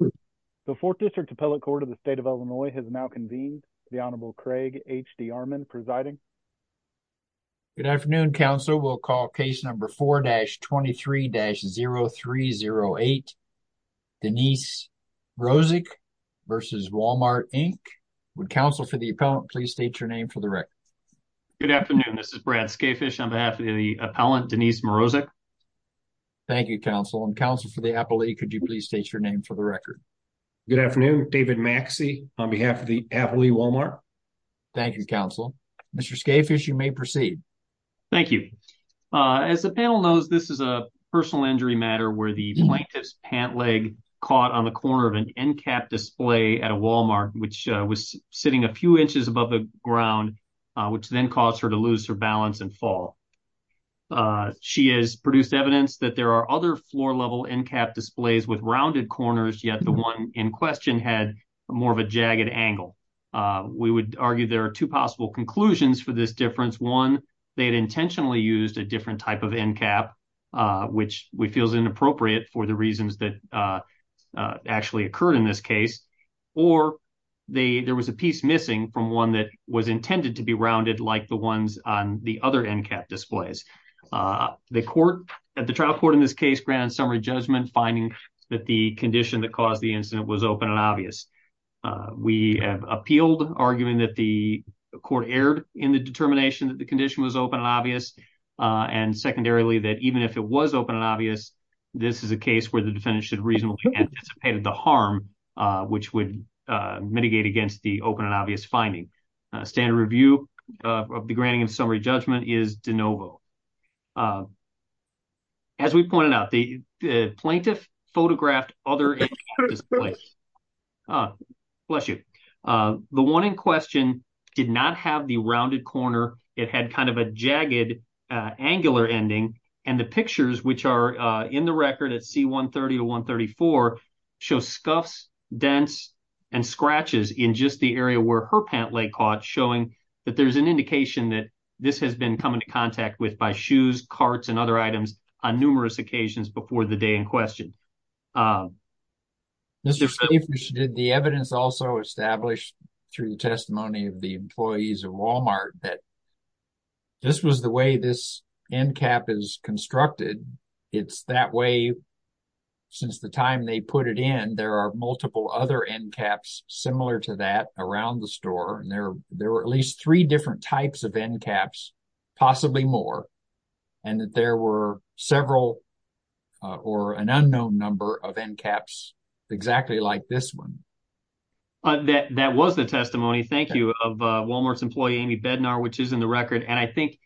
The Fourth District Appellate Court of the State of Illinois has now convened. The Honorable Craig H. D. Armon presiding. Good afternoon, counsel. We'll call case number 4-23-0308, Denise Mrozek v. Walmart, Inc. Would counsel for the appellant please state your name for the record? Good afternoon. This is Brad Skafish on behalf of the appellant, Denise Mrozek. Thank you, counsel. And counsel for the appellate, could you please state your name for the record? Good afternoon. David Maxey on behalf of the appellate, Walmart. Thank you, counsel. Mr. Skafish, you may proceed. Thank you. As the panel knows, this is a personal injury matter where the plaintiff's pant leg caught on the corner of an end cap display at a Walmart, which was sitting a few inches above the ground, which then caused her to lose her balance and fall. She has produced evidence that there are other floor-level end cap displays with rounded corners, yet the one in question had more of a jagged angle. We would argue there are two possible conclusions for this difference. One, they had intentionally used a different type of end cap, which we feel is inappropriate for the was intended to be rounded like the ones on the other end cap displays. The trial court in this case granted summary judgment, finding that the condition that caused the incident was open and obvious. We have appealed, arguing that the court erred in the determination that the condition was open and obvious. And secondarily, that even if it was open and obvious, this is a case where the defendant should reasonably anticipate the harm, which would mitigate against the open and obvious finding. Standard review of the granting of summary judgment is de novo. As we pointed out, the plaintiff photographed other end cap displays. Bless you. The one in question did not have the rounded corner. It had kind of a jagged angular ending. And the pictures, which are in the record at C-130 to 134, show scuffs, dents, and scratches in just the area where her pant leg caught, showing that there's an indication that this has been come into contact with by shoes, carts, and other items on numerous occasions before the day in question. The evidence also established through the testimony of the employees of Walmart that this was the way this end cap is constructed. It's that way since the time they put it in. There are multiple other end caps similar to that around the store, and there were at least three different types of end caps, possibly more, and that there were several or an unknown number of end caps exactly like this one. That was the testimony, thank you, of Walmart's employee Amy Bednar, which is in the record. And I think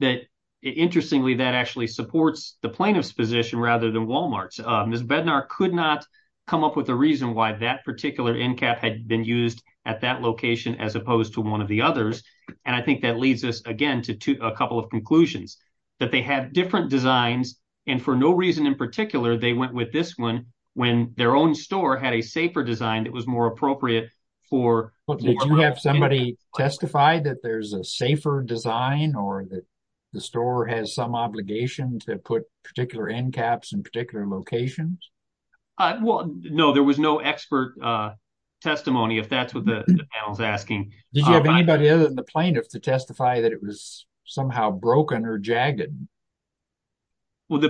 that, interestingly, that actually supports the plaintiff's position rather than Walmart's. Ms. Bednar could not come up with a reason why that particular end cap had been used at that location as opposed to one of the others. And I think that leads us again to a couple of conclusions. That they had different designs, and for no reason in particular, they went with this one when their own store had a safer design that was more appropriate for... Did you have somebody testify that there's a safer design or that the store has some obligation to put particular end caps in particular locations? No, there was no expert testimony, if that's what the panel's asking. Did you have anybody other than the plaintiff to testify that it was somehow broken or jagged? Well,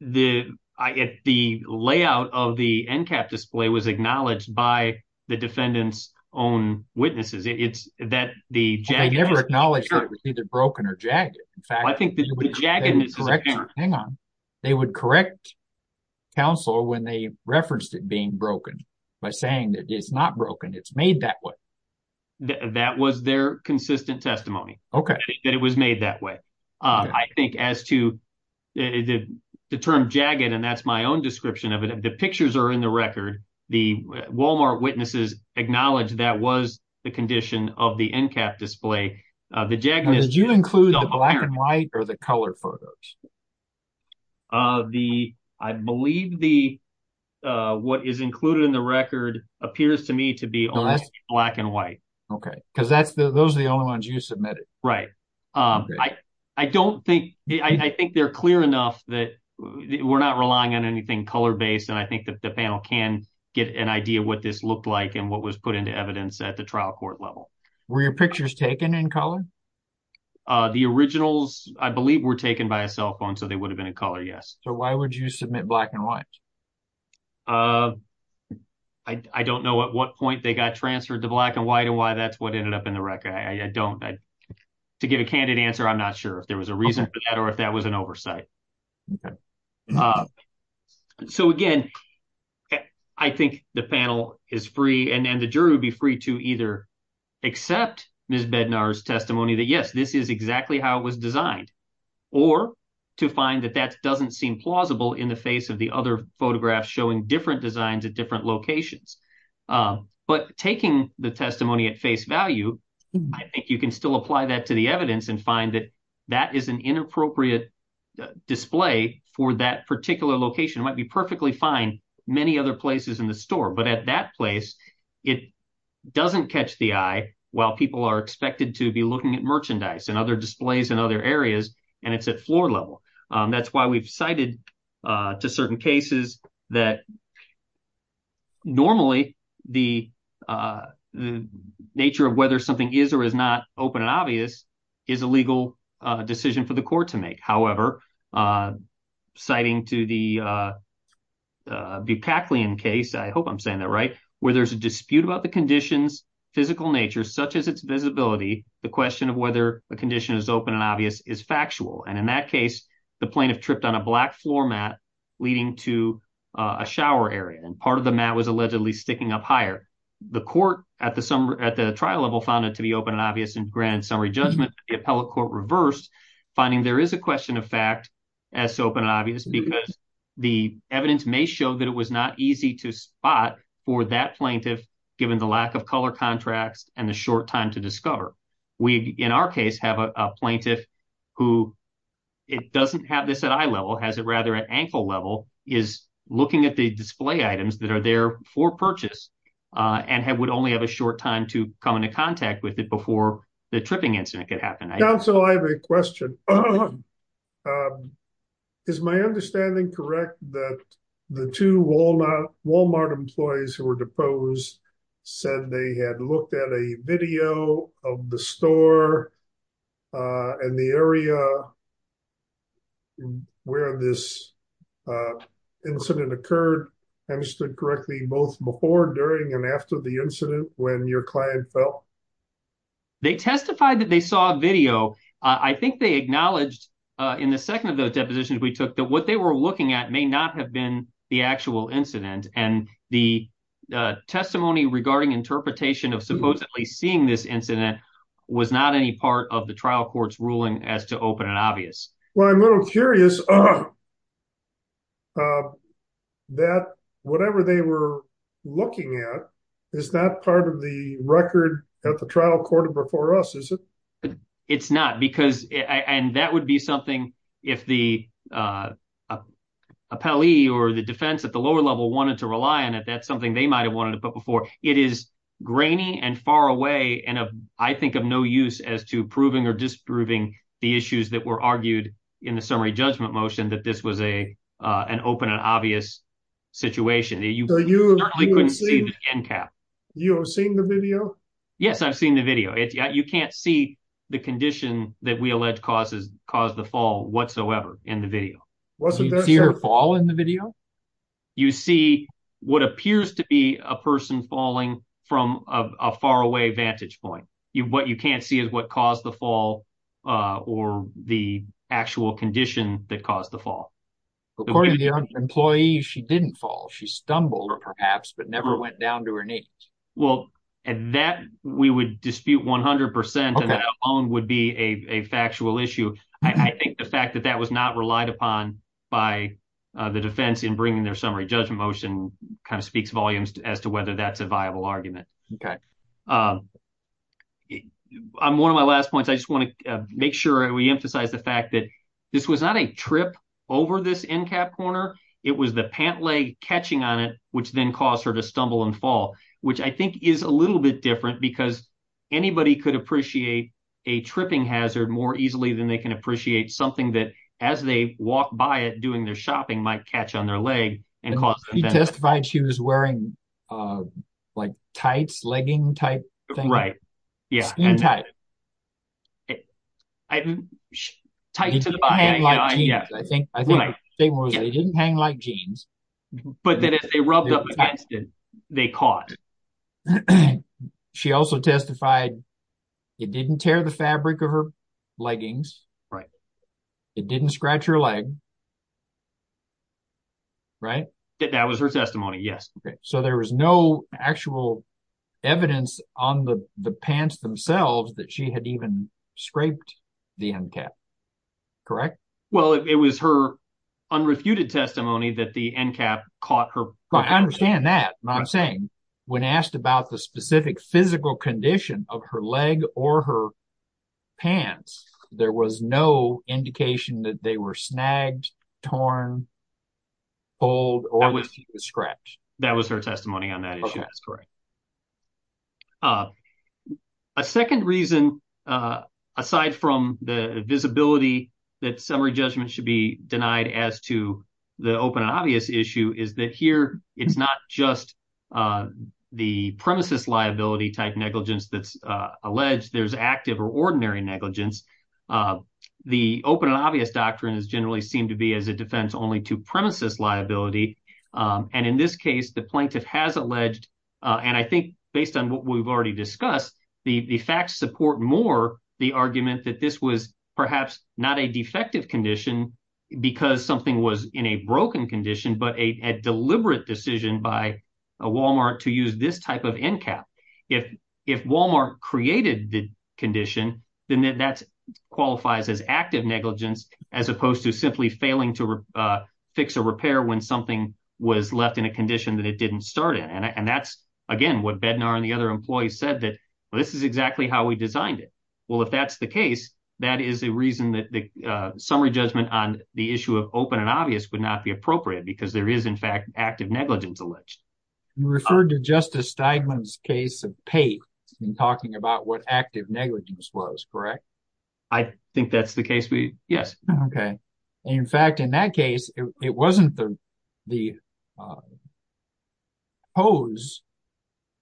the layout of the end cap display was acknowledged by the defendant's own witnesses. It's that the jagged... They never acknowledged that it was either broken or jagged. In fact... Well, I think that the jaggedness is... Hang on. They would correct counsel when they referenced it being broken by saying that it's not broken, it's made that way. That was their consistent testimony. Okay. That it was made that way. I think as to the term jagged, and that's my own description of it, the pictures are in the record. The Walmart witnesses acknowledged that was the condition of the end cap display. The jaggedness... Did you include the black and white or the color photos? I believe what is included in the record appears to me to be only black and white. Okay. Because those are the only ones you submitted. Right. I think they're clear enough that we're not relying on anything color-based, and I think that the panel can get an idea of what this looked like and what was put into evidence at the trial court level. Were your pictures taken in color? The originals, I believe, were taken by a cell phone, so they would have been in color, yes. So why would you submit black and white? I don't know at what point they got transferred to black and white and why that's what ended up in the record. I don't... To give a candid answer, I'm not sure if there was a reason for that or if that was an oversight. Okay. So again, I think the panel is free and the jury would be free to either accept Ms. Bednar's testimony that, yes, this is exactly how it was designed, or to find that that doesn't seem plausible in the face of the other photographs showing different designs at different locations. But taking the testimony at face value, I think you can still apply that to the evidence and find that that is an inappropriate display for that particular location. It might be perfectly fine many other places in the store, but at that place, it doesn't catch the eye while people are expected to be looking at merchandise and other displays in other areas, and it's at floor level. That's why we've cited to certain cases that normally the nature of whether something is or is not open and obvious is a legal decision for the court to make. However, citing to the Bukaklian case, I hope I'm saying that right, where there's a dispute about the condition's physical nature, such as its visibility, the question of whether a condition is open and obvious is factual. And in that case, the plaintiff tripped on a black floor mat leading to a shower area, and part of the mat was allegedly sticking up higher. The court at the trial level found it to be open and obvious, and granted summary judgment, the appellate court reversed, finding there is a question of fact as to open and obvious, because the evidence may show that it was not easy to spot for that plaintiff given the lack of color contracts and the short time to discover. We, in our case, have a plaintiff who doesn't have this at eye level, has it rather at ankle level, is looking at the display items that are there for purchase and would only have a short time to come into contact with it before the tripping incident could happen. Counsel, I have a question. Is my understanding correct that the two Walmart employees who were at the store and the area where this incident occurred, understood correctly both before, during, and after the incident when your client fell? They testified that they saw a video. I think they acknowledged in the second of those depositions we took that what they were looking at may not have been the actual incident, and the testimony regarding interpretation of supposedly seeing this incident was not any part of the trial court's ruling as to open and obvious. Well, I'm a little curious that whatever they were looking at is not part of the record that the trial court before us, is it? It's not, because, and that would be something if the appellee or the defense at the lower level wanted to rely on it, that's something they might've wanted to put before. It is grainy and far away, and I think of no use as to proving or disproving the issues that were argued in the summary judgment motion that this was an open and obvious situation. You certainly couldn't see the end cap. You have seen the video? Yes, I've seen the video. You can't see the condition that we allege caused the fall whatsoever in the video. See her fall in the video? You see what appears to be a person falling from a far away vantage point. What you can't see is what caused the fall or the actual condition that caused the fall. According to the employee, she didn't fall. She stumbled perhaps, but never went down to her knees. Well, that we would dispute 100% and that alone would be a factual issue. I think the fact that that was not relied upon by the defense in bringing their summary judgment motion kind of speaks volumes as to whether that's a viable argument. I'm one of my last points. I just want to make sure we emphasize the fact that this was not a trip over this end cap corner. It was the pant leg catching on it, which then caused her to stumble and fall, which I think is a little bit different because anybody could appreciate a tripping hazard more easily than they can appreciate something that as they walk by it doing their shopping might catch on their leg. She testified she was wearing like tights, legging type thing. Right. Yeah. Skin tight. Tight to the body. I think she didn't hang like jeans. But then as they rubbed up against it, they caught. She also testified it didn't tear the fabric of her leggings. Right. It didn't scratch her leg. Right. That was her testimony. Yes. Okay. So there was no actual evidence on the pants themselves that she had even scraped the end cap. Correct? Well, it was her unrefuted testimony that the end cap caught her. I understand that. I'm saying when asked about the specific physical condition of her leg or her pants, there was no indication that they were snagged, torn, pulled or scraped. That was her testimony on that issue. That's correct. A second reason, aside from the visibility that summary judgment should be denied as to the open and obvious issue, is that here it's not just the premises liability type negligence that's alleged. There's active or ordinary negligence. The open and obvious doctrine is generally seen to be as a defense only to premises liability. And in this case, the plaintiff has alleged, and I think based on what we've already discussed, the facts support more the argument that this was perhaps not a defective condition because something was in a broken condition, but a deliberate decision by Walmart to use this type of end cap. If Walmart created the condition, then that qualifies as active negligence as opposed to simply failing to fix or repair when something was left in a condition that it didn't start in. And that's, again, what Bednar and the other employees said, that this is exactly how we designed it. Well, if that's the case, that is a reason that the summary judgment on the issue of open and obvious would not be appropriate because there is, in fact, active negligence alleged. You referred to Justice Steigman's case of Pate in talking about what active negligence was, correct? I think that's the case. Yes. Okay. And in fact, in that case, it wasn't the hose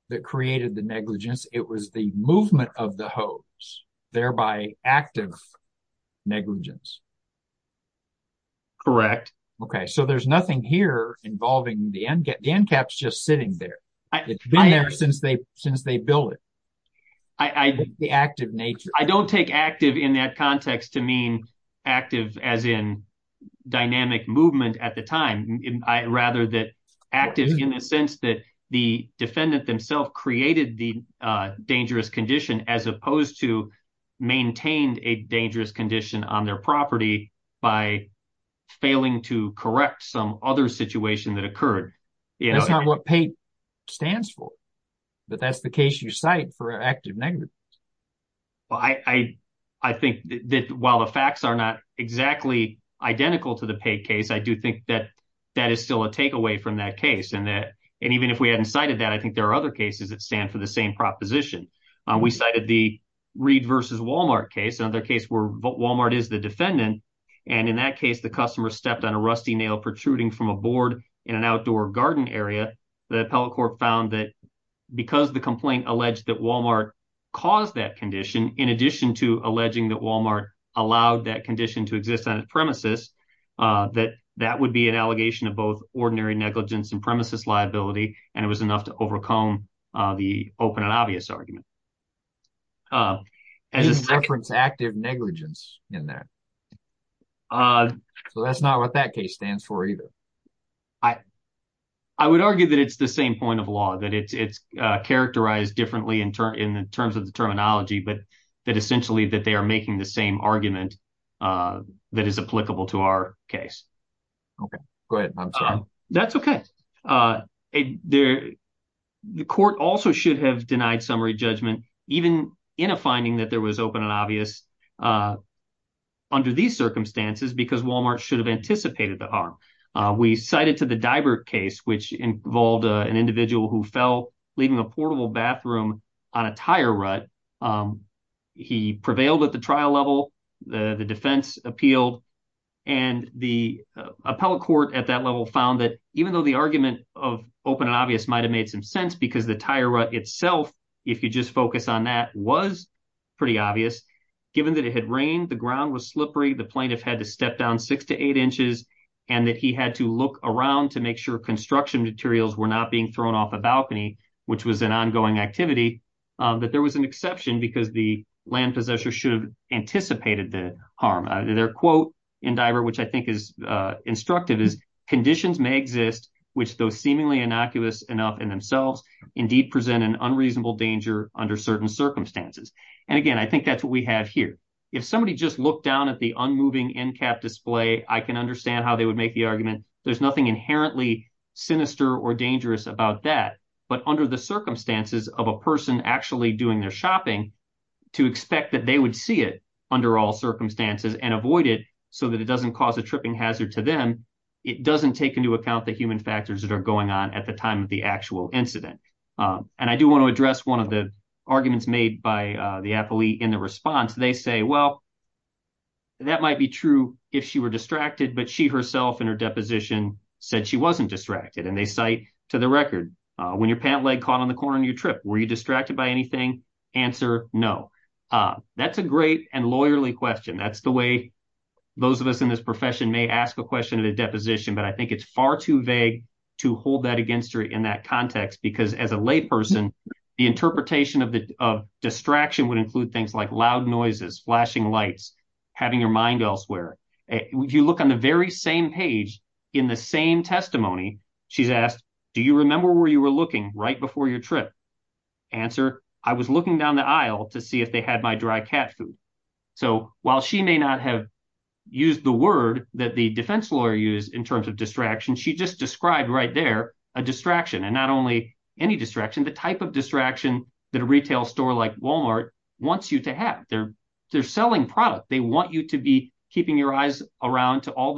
that created the negligence. It was the movement of the hose, thereby active negligence. Correct. Okay. So there's nothing here involving the end cap. The end cap's just sitting there. It's been there since they built it. I think the active nature... I don't take active in that context to mean active as in dynamic movement at the time, rather that active in the sense that the defendant themselves created the dangerous condition as opposed to maintained a dangerous condition on their property by failing to correct some other situation that occurred. That's not what Pate stands for, but that's the case you cite for active negligence. Well, I think that while the facts are not exactly identical to the Pate case, I do think that that is still a takeaway from that case. And even if we hadn't cited that, I think there are other cases that stand for the same proposition. We cited the Reed versus Walmart case, another case where Walmart is the defendant. And in that case, the customer stepped on a rusty nail protruding from a board in an outdoor garden area. The appellate court found that because the complaint alleged that Walmart caused that condition, in addition to alleging that Walmart allowed that condition to exist on its premises, that would be an allegation of both ordinary negligence and premises liability. And it was enough to overcome the open and obvious argument. It's reference active negligence in that. So that's not what that case stands for either. I would argue that it's the same point of law, that it's characterized differently in terms of the terminology, but that essentially that they are making the same argument that is applicable to our case. OK, great. That's OK. The court also should have denied summary judgment, even in a finding that there was open and obvious under these circumstances, because Walmart should have anticipated the harm. We cited to the diver case, which involved an individual who fell leaving a portable bathroom on a tire rut. He prevailed at the trial level, the defense appealed, and the appellate court at that level found that even though the argument of open and obvious might have made some sense because the tire rut itself, if you just focus on that, was pretty obvious. Given that it had rained, the ground was slippery, the plaintiff had to step down six to eight inches, and that he had to look around to make sure construction materials were not being thrown off a balcony, which was an ongoing activity, that there was an exception because the land possessor should have anticipated the harm. Their quote in Diver, which I think is instructive, is conditions may exist which those seemingly innocuous enough in themselves indeed present an unreasonable danger under certain circumstances. And again, I think that's what we have here. If somebody just looked down at the unmoving NCAP display, I can understand how they would make the argument. There's nothing inherently sinister or dangerous about that. But under the circumstances of a person actually doing their shopping, to expect that they would see it under all circumstances and avoid it so that it doesn't cause a tripping hazard to them, it doesn't take into account the human factors that are going on at the time of the actual incident. And I do want to address one of the arguments made by the appellate in the response. They say, well, that might be true if she were distracted, but she herself in her deposition said she wasn't distracted. And they cite to the record, when your pant leg caught on the corner and you trip, were you distracted by anything? Answer, no. That's a great and lawyerly question. That's the way those of us in this profession may ask a question of the deposition. But I think it's far too vague to hold that against her in that context, because as a of distraction would include things like loud noises, flashing lights, having your mind elsewhere. If you look on the very same page in the same testimony, she's asked, do you remember where you were looking right before your trip? Answer, I was looking down the aisle to see if they had my dry cat food. So while she may not have used the word that the defense lawyer used in terms of distraction, she just described right there a distraction and not only any distraction, the type of distraction that a retail store like Walmart wants you to have. They're they're selling product. They want you to be keeping your eyes around to all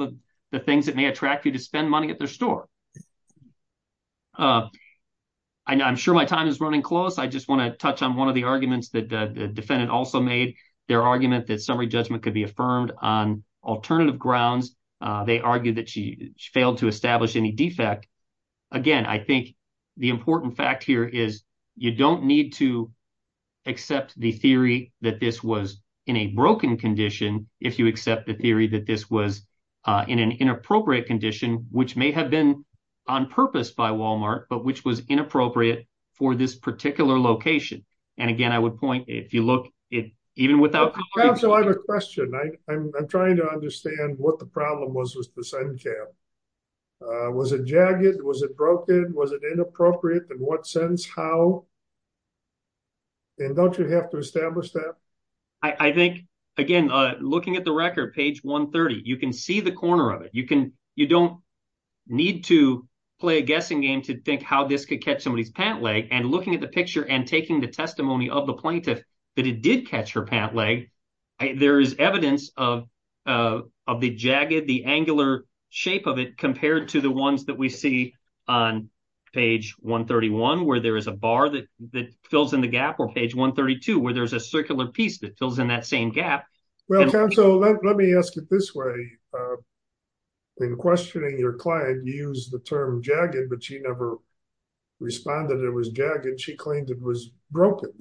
the things that may attract you to spend money at their store. And I'm sure my time is running close. I just want to touch on one of the arguments that the defendant also made their argument that summary judgment could be affirmed on alternative grounds. They argued that she failed to establish any defect. Again, I think the important fact here is you don't need to accept the theory that this was in a broken condition. If you accept the theory that this was in an inappropriate condition, which may have been on purpose by Walmart, but which was inappropriate for this particular location. And again, I would point if you look at even without a question, I'm trying to understand what the problem was, was the sun. Was it jagged? Was it broken? Was it inappropriate? In what sense? How? And don't you have to establish that? I think, again, looking at the record, page 130, you can see the corner of it. You can you don't need to play a guessing game to think how this could catch somebody's pant leg and looking at the picture and taking the testimony of the plaintiff that it did catch her pant leg. There is evidence of of the jagged, the angular shape of it compared to the ones that we see on page 131, where there is a bar that that fills in the gap or page 132, where there's a circular piece that fills in that same gap. Well, so let me ask it this way. In questioning your client, you use the term jagged, but she never responded. It was jagged. She claimed it was broken.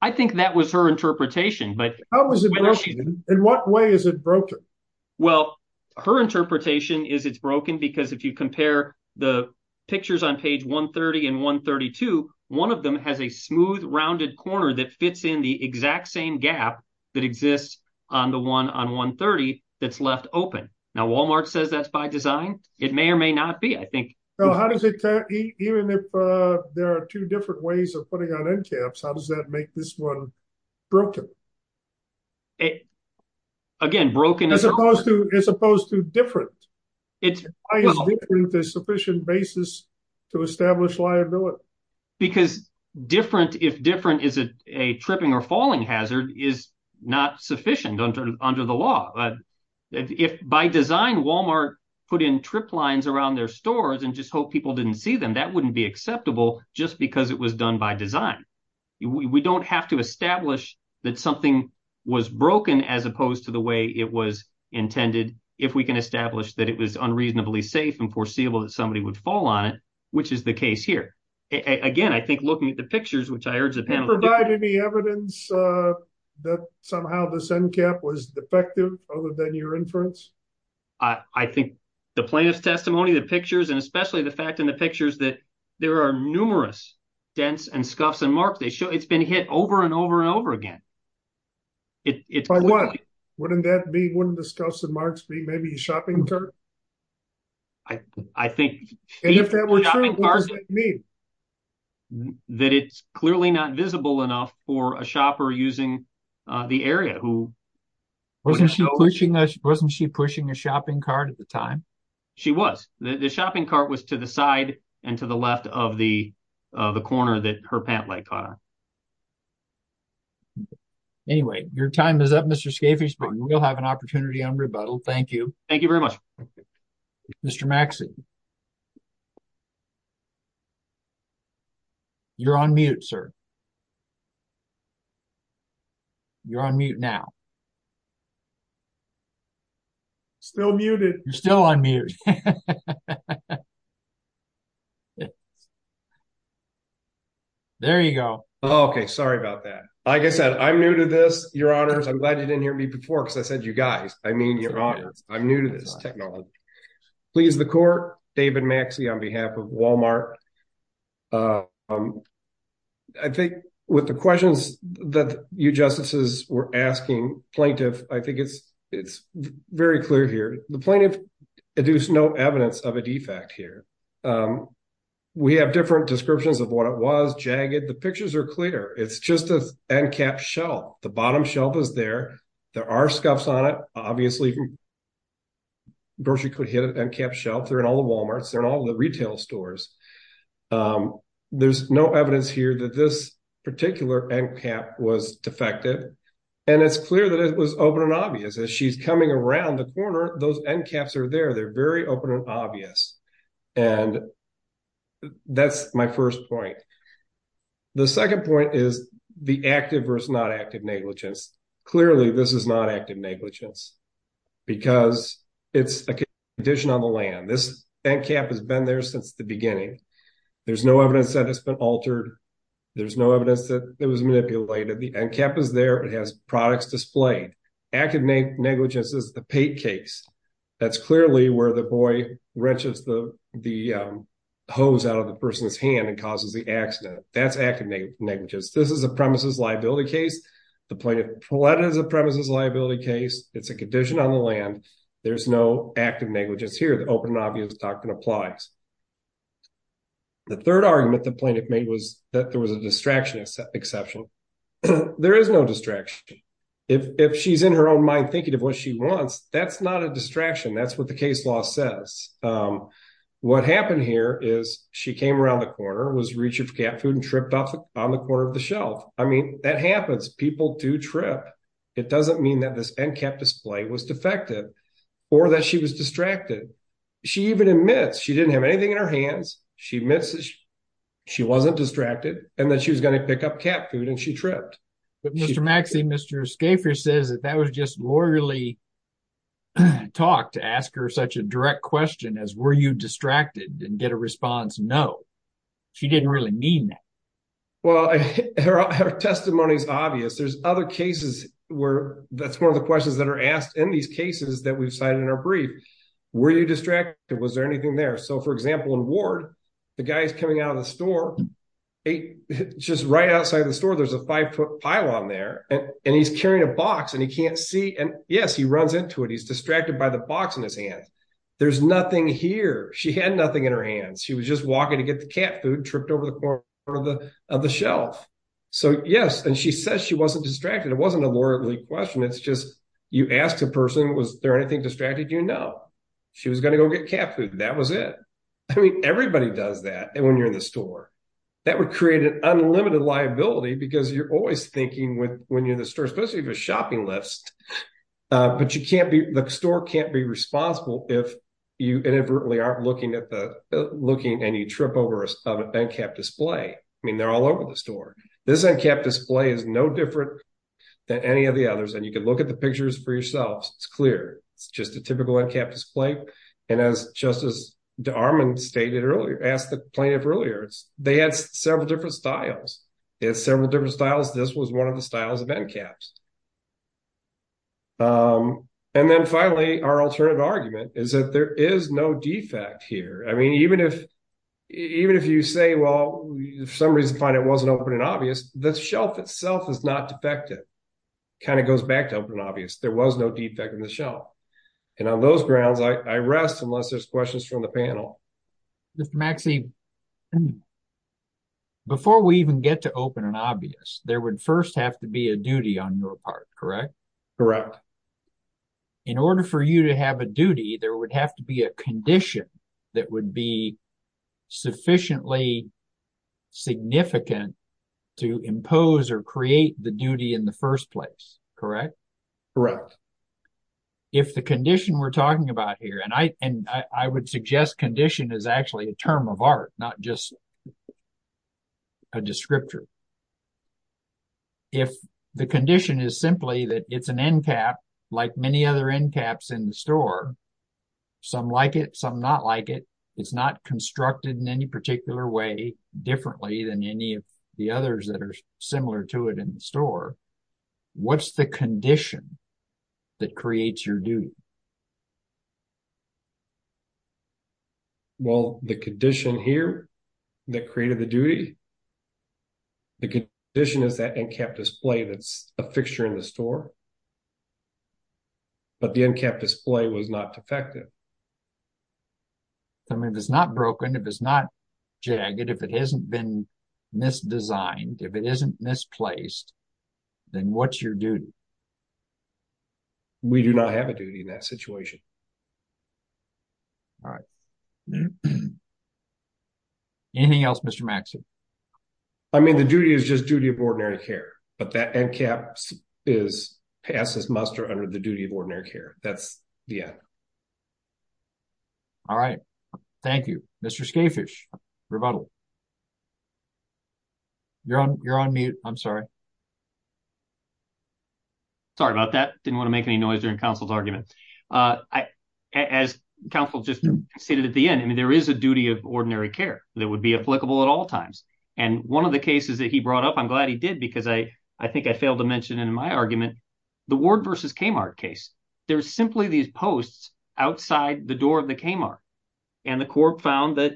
I think that was her interpretation. But in what way is it broken? Well, her interpretation is it's broken because if you compare the pictures on page 130 and 132, one of them has a smooth, rounded corner that fits in the exact same gap that exists on the one on 130 that's left open. Now, Walmart says that's by design. It may or may not be, I think. How does it, even if there are two different ways of putting on end caps, how does that make this one broken? Again, broken as opposed to different. It's sufficient basis to establish liability. Because different, if different is a tripping or falling hazard, is not sufficient under the law. If by design, Walmart put in trip lines around their stores and just hope people didn't see them, that wouldn't be acceptable just because it was done by design. We don't have to establish that something was broken as opposed to the way it was intended if we can establish that it was unreasonably safe and foreseeable that somebody would fall on it, which is the case here. Again, I think looking at the pictures, which I urge the panel— Somehow this end cap was defective other than your inference? I think the plaintiff's testimony, the pictures, and especially the fact in the pictures that there are numerous dents and scuffs and marks. It's been hit over and over and over again. It's clearly— By what? Wouldn't that be, wouldn't the scuffs and marks be maybe a shopping cart? I think— And if that were true, what does that mean? That it's clearly not visible enough for a shopper using the area who— Wasn't she pushing a shopping cart at the time? She was. The shopping cart was to the side and to the left of the corner that her pant leg caught on. Anyway, your time is up, Mr. Scafiesburg. We'll have an opportunity on rebuttal. Thank you. Thank you very much. Mr. Maxey. You're on mute, sir. You're on mute now. Still muted. You're still on mute. There you go. Okay, sorry about that. Like I said, I'm new to this, your honors. I'm glad you didn't hear me before because I said you guys. I mean your honors. I'm new to this technology. Please, the court. David Maxey on behalf of Walmart. I think with the questions that you justices were asking plaintiff, I think it's very clear here. The plaintiff deduced no evidence of a defect here. We have different descriptions of what it was. Jagged. The pictures are clear. It's just an end cap shelf. The bottom shelf is there. There are scuffs on it. Obviously, grocery could hit an end cap shelf. They're in all the Walmarts. They're in all the retail stores. There's no evidence here that this particular end cap was defective. And it's clear that it was open and obvious as she's coming around the corner. Those end caps are there. They're very open and obvious. And that's my first point. The second point is the active versus not active negligence. Clearly, this is not active negligence. Because it's a condition on the land. This end cap has been there since the beginning. There's no evidence that it's been altered. There's no evidence that it was manipulated. The end cap is there. It has products displayed. Active negligence is the pate case. That's clearly where the boy wrenches the hose out of the person's hand and causes the accident. That's active negligence. This is a premises liability case. The plaintiff pleaded as a premises liability case. It's a condition on the land. There's no active negligence here. The open and obvious doctrine applies. The third argument the plaintiff made was that there was a distraction exception. There is no distraction. If she's in her own mind thinking of what she wants, that's not a distraction. That's what the case law says. What happened here is she came around the corner, was reaching for cat food and tripped off on the corner of the shelf. I mean, that happens. People do trip. It doesn't mean that this end cap display was defective or that she was distracted. She even admits she didn't have anything in her hands. She admits she wasn't distracted and that she was going to pick up cat food and she tripped. But Mr. Maxey, Mr. Skafer says that that was just lawyerly talk to ask her such a direct question as were you distracted and get a response? No, she didn't really mean that. Well, her testimony is obvious. There's other cases where that's one of the questions that are asked in these cases that we've cited in our brief. Were you distracted? Was there anything there? So, for example, in Ward, the guy is coming out of the store. Just right outside the store, there's a five foot pile on there and he's carrying a box and he can't see. And yes, he runs into it. He's distracted by the box in his hand. There's nothing here. She had nothing in her hands. She was just walking to get the cat food, tripped over the corner of the shelf. So, yes. And she says she wasn't distracted. It wasn't a lawyerly question. It's just you asked a person, was there anything distracted? You know, she was going to go get cat food. That was it. I mean, everybody does that. And when you're in the store, that would create an unlimited liability because you're always thinking with when you're in the store, especially if a shopping list, but you can't be the store can't be responsible if you inadvertently aren't looking at the looking and you trip over a cap display. I mean, they're all over the store. This cap display is no different than any of the others. And you can look at the pictures for yourselves. It's clear. It's just a typical cap display. And as just as the arm and stated earlier, asked the plaintiff earlier, they had several different styles. It's several different styles. This was one of the styles of caps. And then finally, our alternative argument is that there is no defect here. I mean, even if even if you say, well, for some reason, find it wasn't open and obvious. The shelf itself is not defective. Kind of goes back to open and obvious. There was no defect in the shelf. And on those grounds, I rest unless there's questions from the panel. Mr. Maxey, before we even get to open and obvious, there would first have to be a duty on your part, correct? Correct. In order for you to have a duty, there would have to be a condition that would be sufficiently significant to impose or create the duty in the first place. Correct? Correct. If the condition we're talking about here, and I would suggest condition is actually a term of art, not just a descriptor. If the condition is simply that it's an end cap, like many other end caps in the store, some like it, some not like it, it's not constructed in any particular way differently than any of the others that are similar to it in the store. What's the condition that creates your duty? Well, the condition here that created the duty, the condition is that end cap display that's a fixture in the store. But the end cap display was not defective. I mean, if it's not broken, if it's not jagged, if it hasn't been misdesigned, if it isn't misplaced, then what's your duty? We do not have a duty in that situation. All right. Anything else, Mr. Maxey? I mean, the duty is just duty of ordinary care, but that end cap passes muster under the duty of ordinary care. That's the end. All right. Thank you. Mr. Scafish, rebuttal. You're on mute. I'm sorry. Sorry about that. Didn't want to make any noise during counsel's argument. As counsel just stated at the end, I mean, there is a duty of ordinary care that would be applicable at all times. And one of the cases that he brought up, I'm glad he did because I think I failed to mention in my argument, the Ward versus Kmart case. There's simply these posts outside the door of the Kmart. And the court found that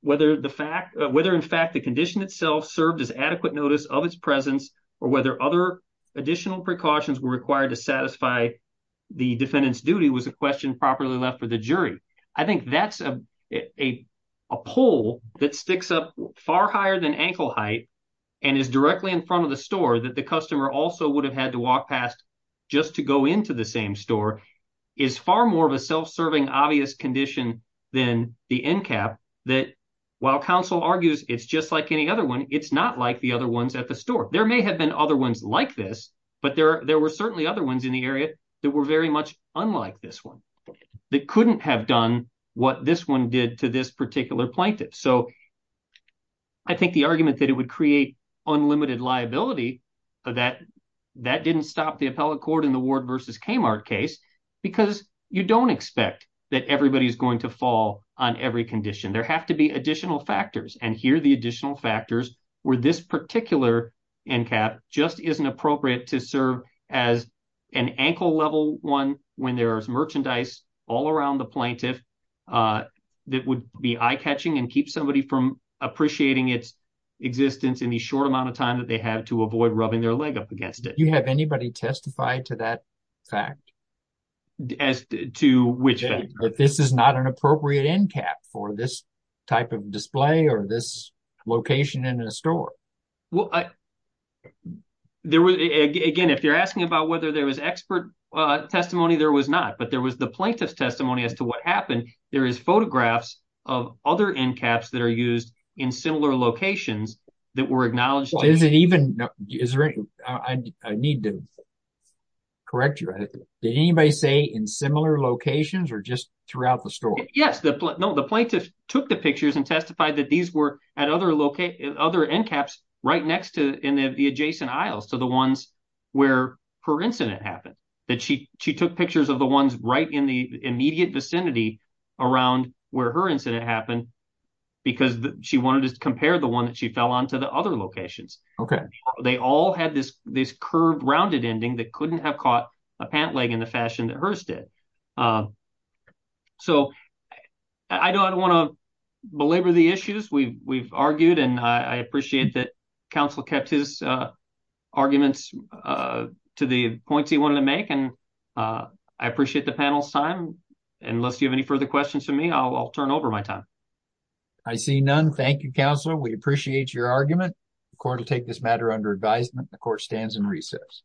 whether the fact, whether in fact the condition itself served as adequate notice of its presence or whether other additional precautions were required to satisfy the defendant's duty was a question properly left for the jury. I think that's a poll that sticks up far higher than ankle height and is directly in front of the store that the customer also would have had to walk past just to go into the same store is far more of a self-serving obvious condition than the end cap that while counsel argues it's just like any other one, it's not like the other ones at the store. There may have been other ones like this, but there were certainly other ones in the area that were very much unlike this one that couldn't have done what this one did to this particular plaintiff. So I think the argument that it would create unlimited liability, that that didn't stop the appellate court in the Ward versus Kmart case because you don't expect that everybody's going to fall on every condition. There have to be additional factors. And here are the additional factors where this particular end cap just isn't appropriate to serve as an ankle level one when there is merchandise all around the plaintiff that would be eye-catching and keep somebody from appreciating its existence in the short amount of time that they have to avoid rubbing their leg up against it. Do you have anybody testify to that fact? As to which? This is not an appropriate end cap for this type of display or this location in a store. Again, if you're asking about whether there was expert testimony, there was not. But there was the plaintiff's testimony as to what happened. There is photographs of other end caps that are used in similar locations that were acknowledged. Well, is it even, I need to correct you. Did anybody say in similar locations or just throughout the store? Yes, the plaintiff took the pictures and testified that these were at other end caps right next to in the adjacent aisles to the ones where her incident happened. She took pictures of the ones right in the immediate vicinity around where her incident happened because she wanted to compare the one that she fell on to the other locations. They all had this curved rounded ending that couldn't have caught a pant leg in the fashion that hers did. So I don't want to belabor the issues we've argued and I appreciate that points he wanted to make and I appreciate the panel's time. Unless you have any further questions for me, I'll turn over my time. I see none. Thank you, Counselor. We appreciate your argument. The court will take this matter under advisement. The court stands in recess.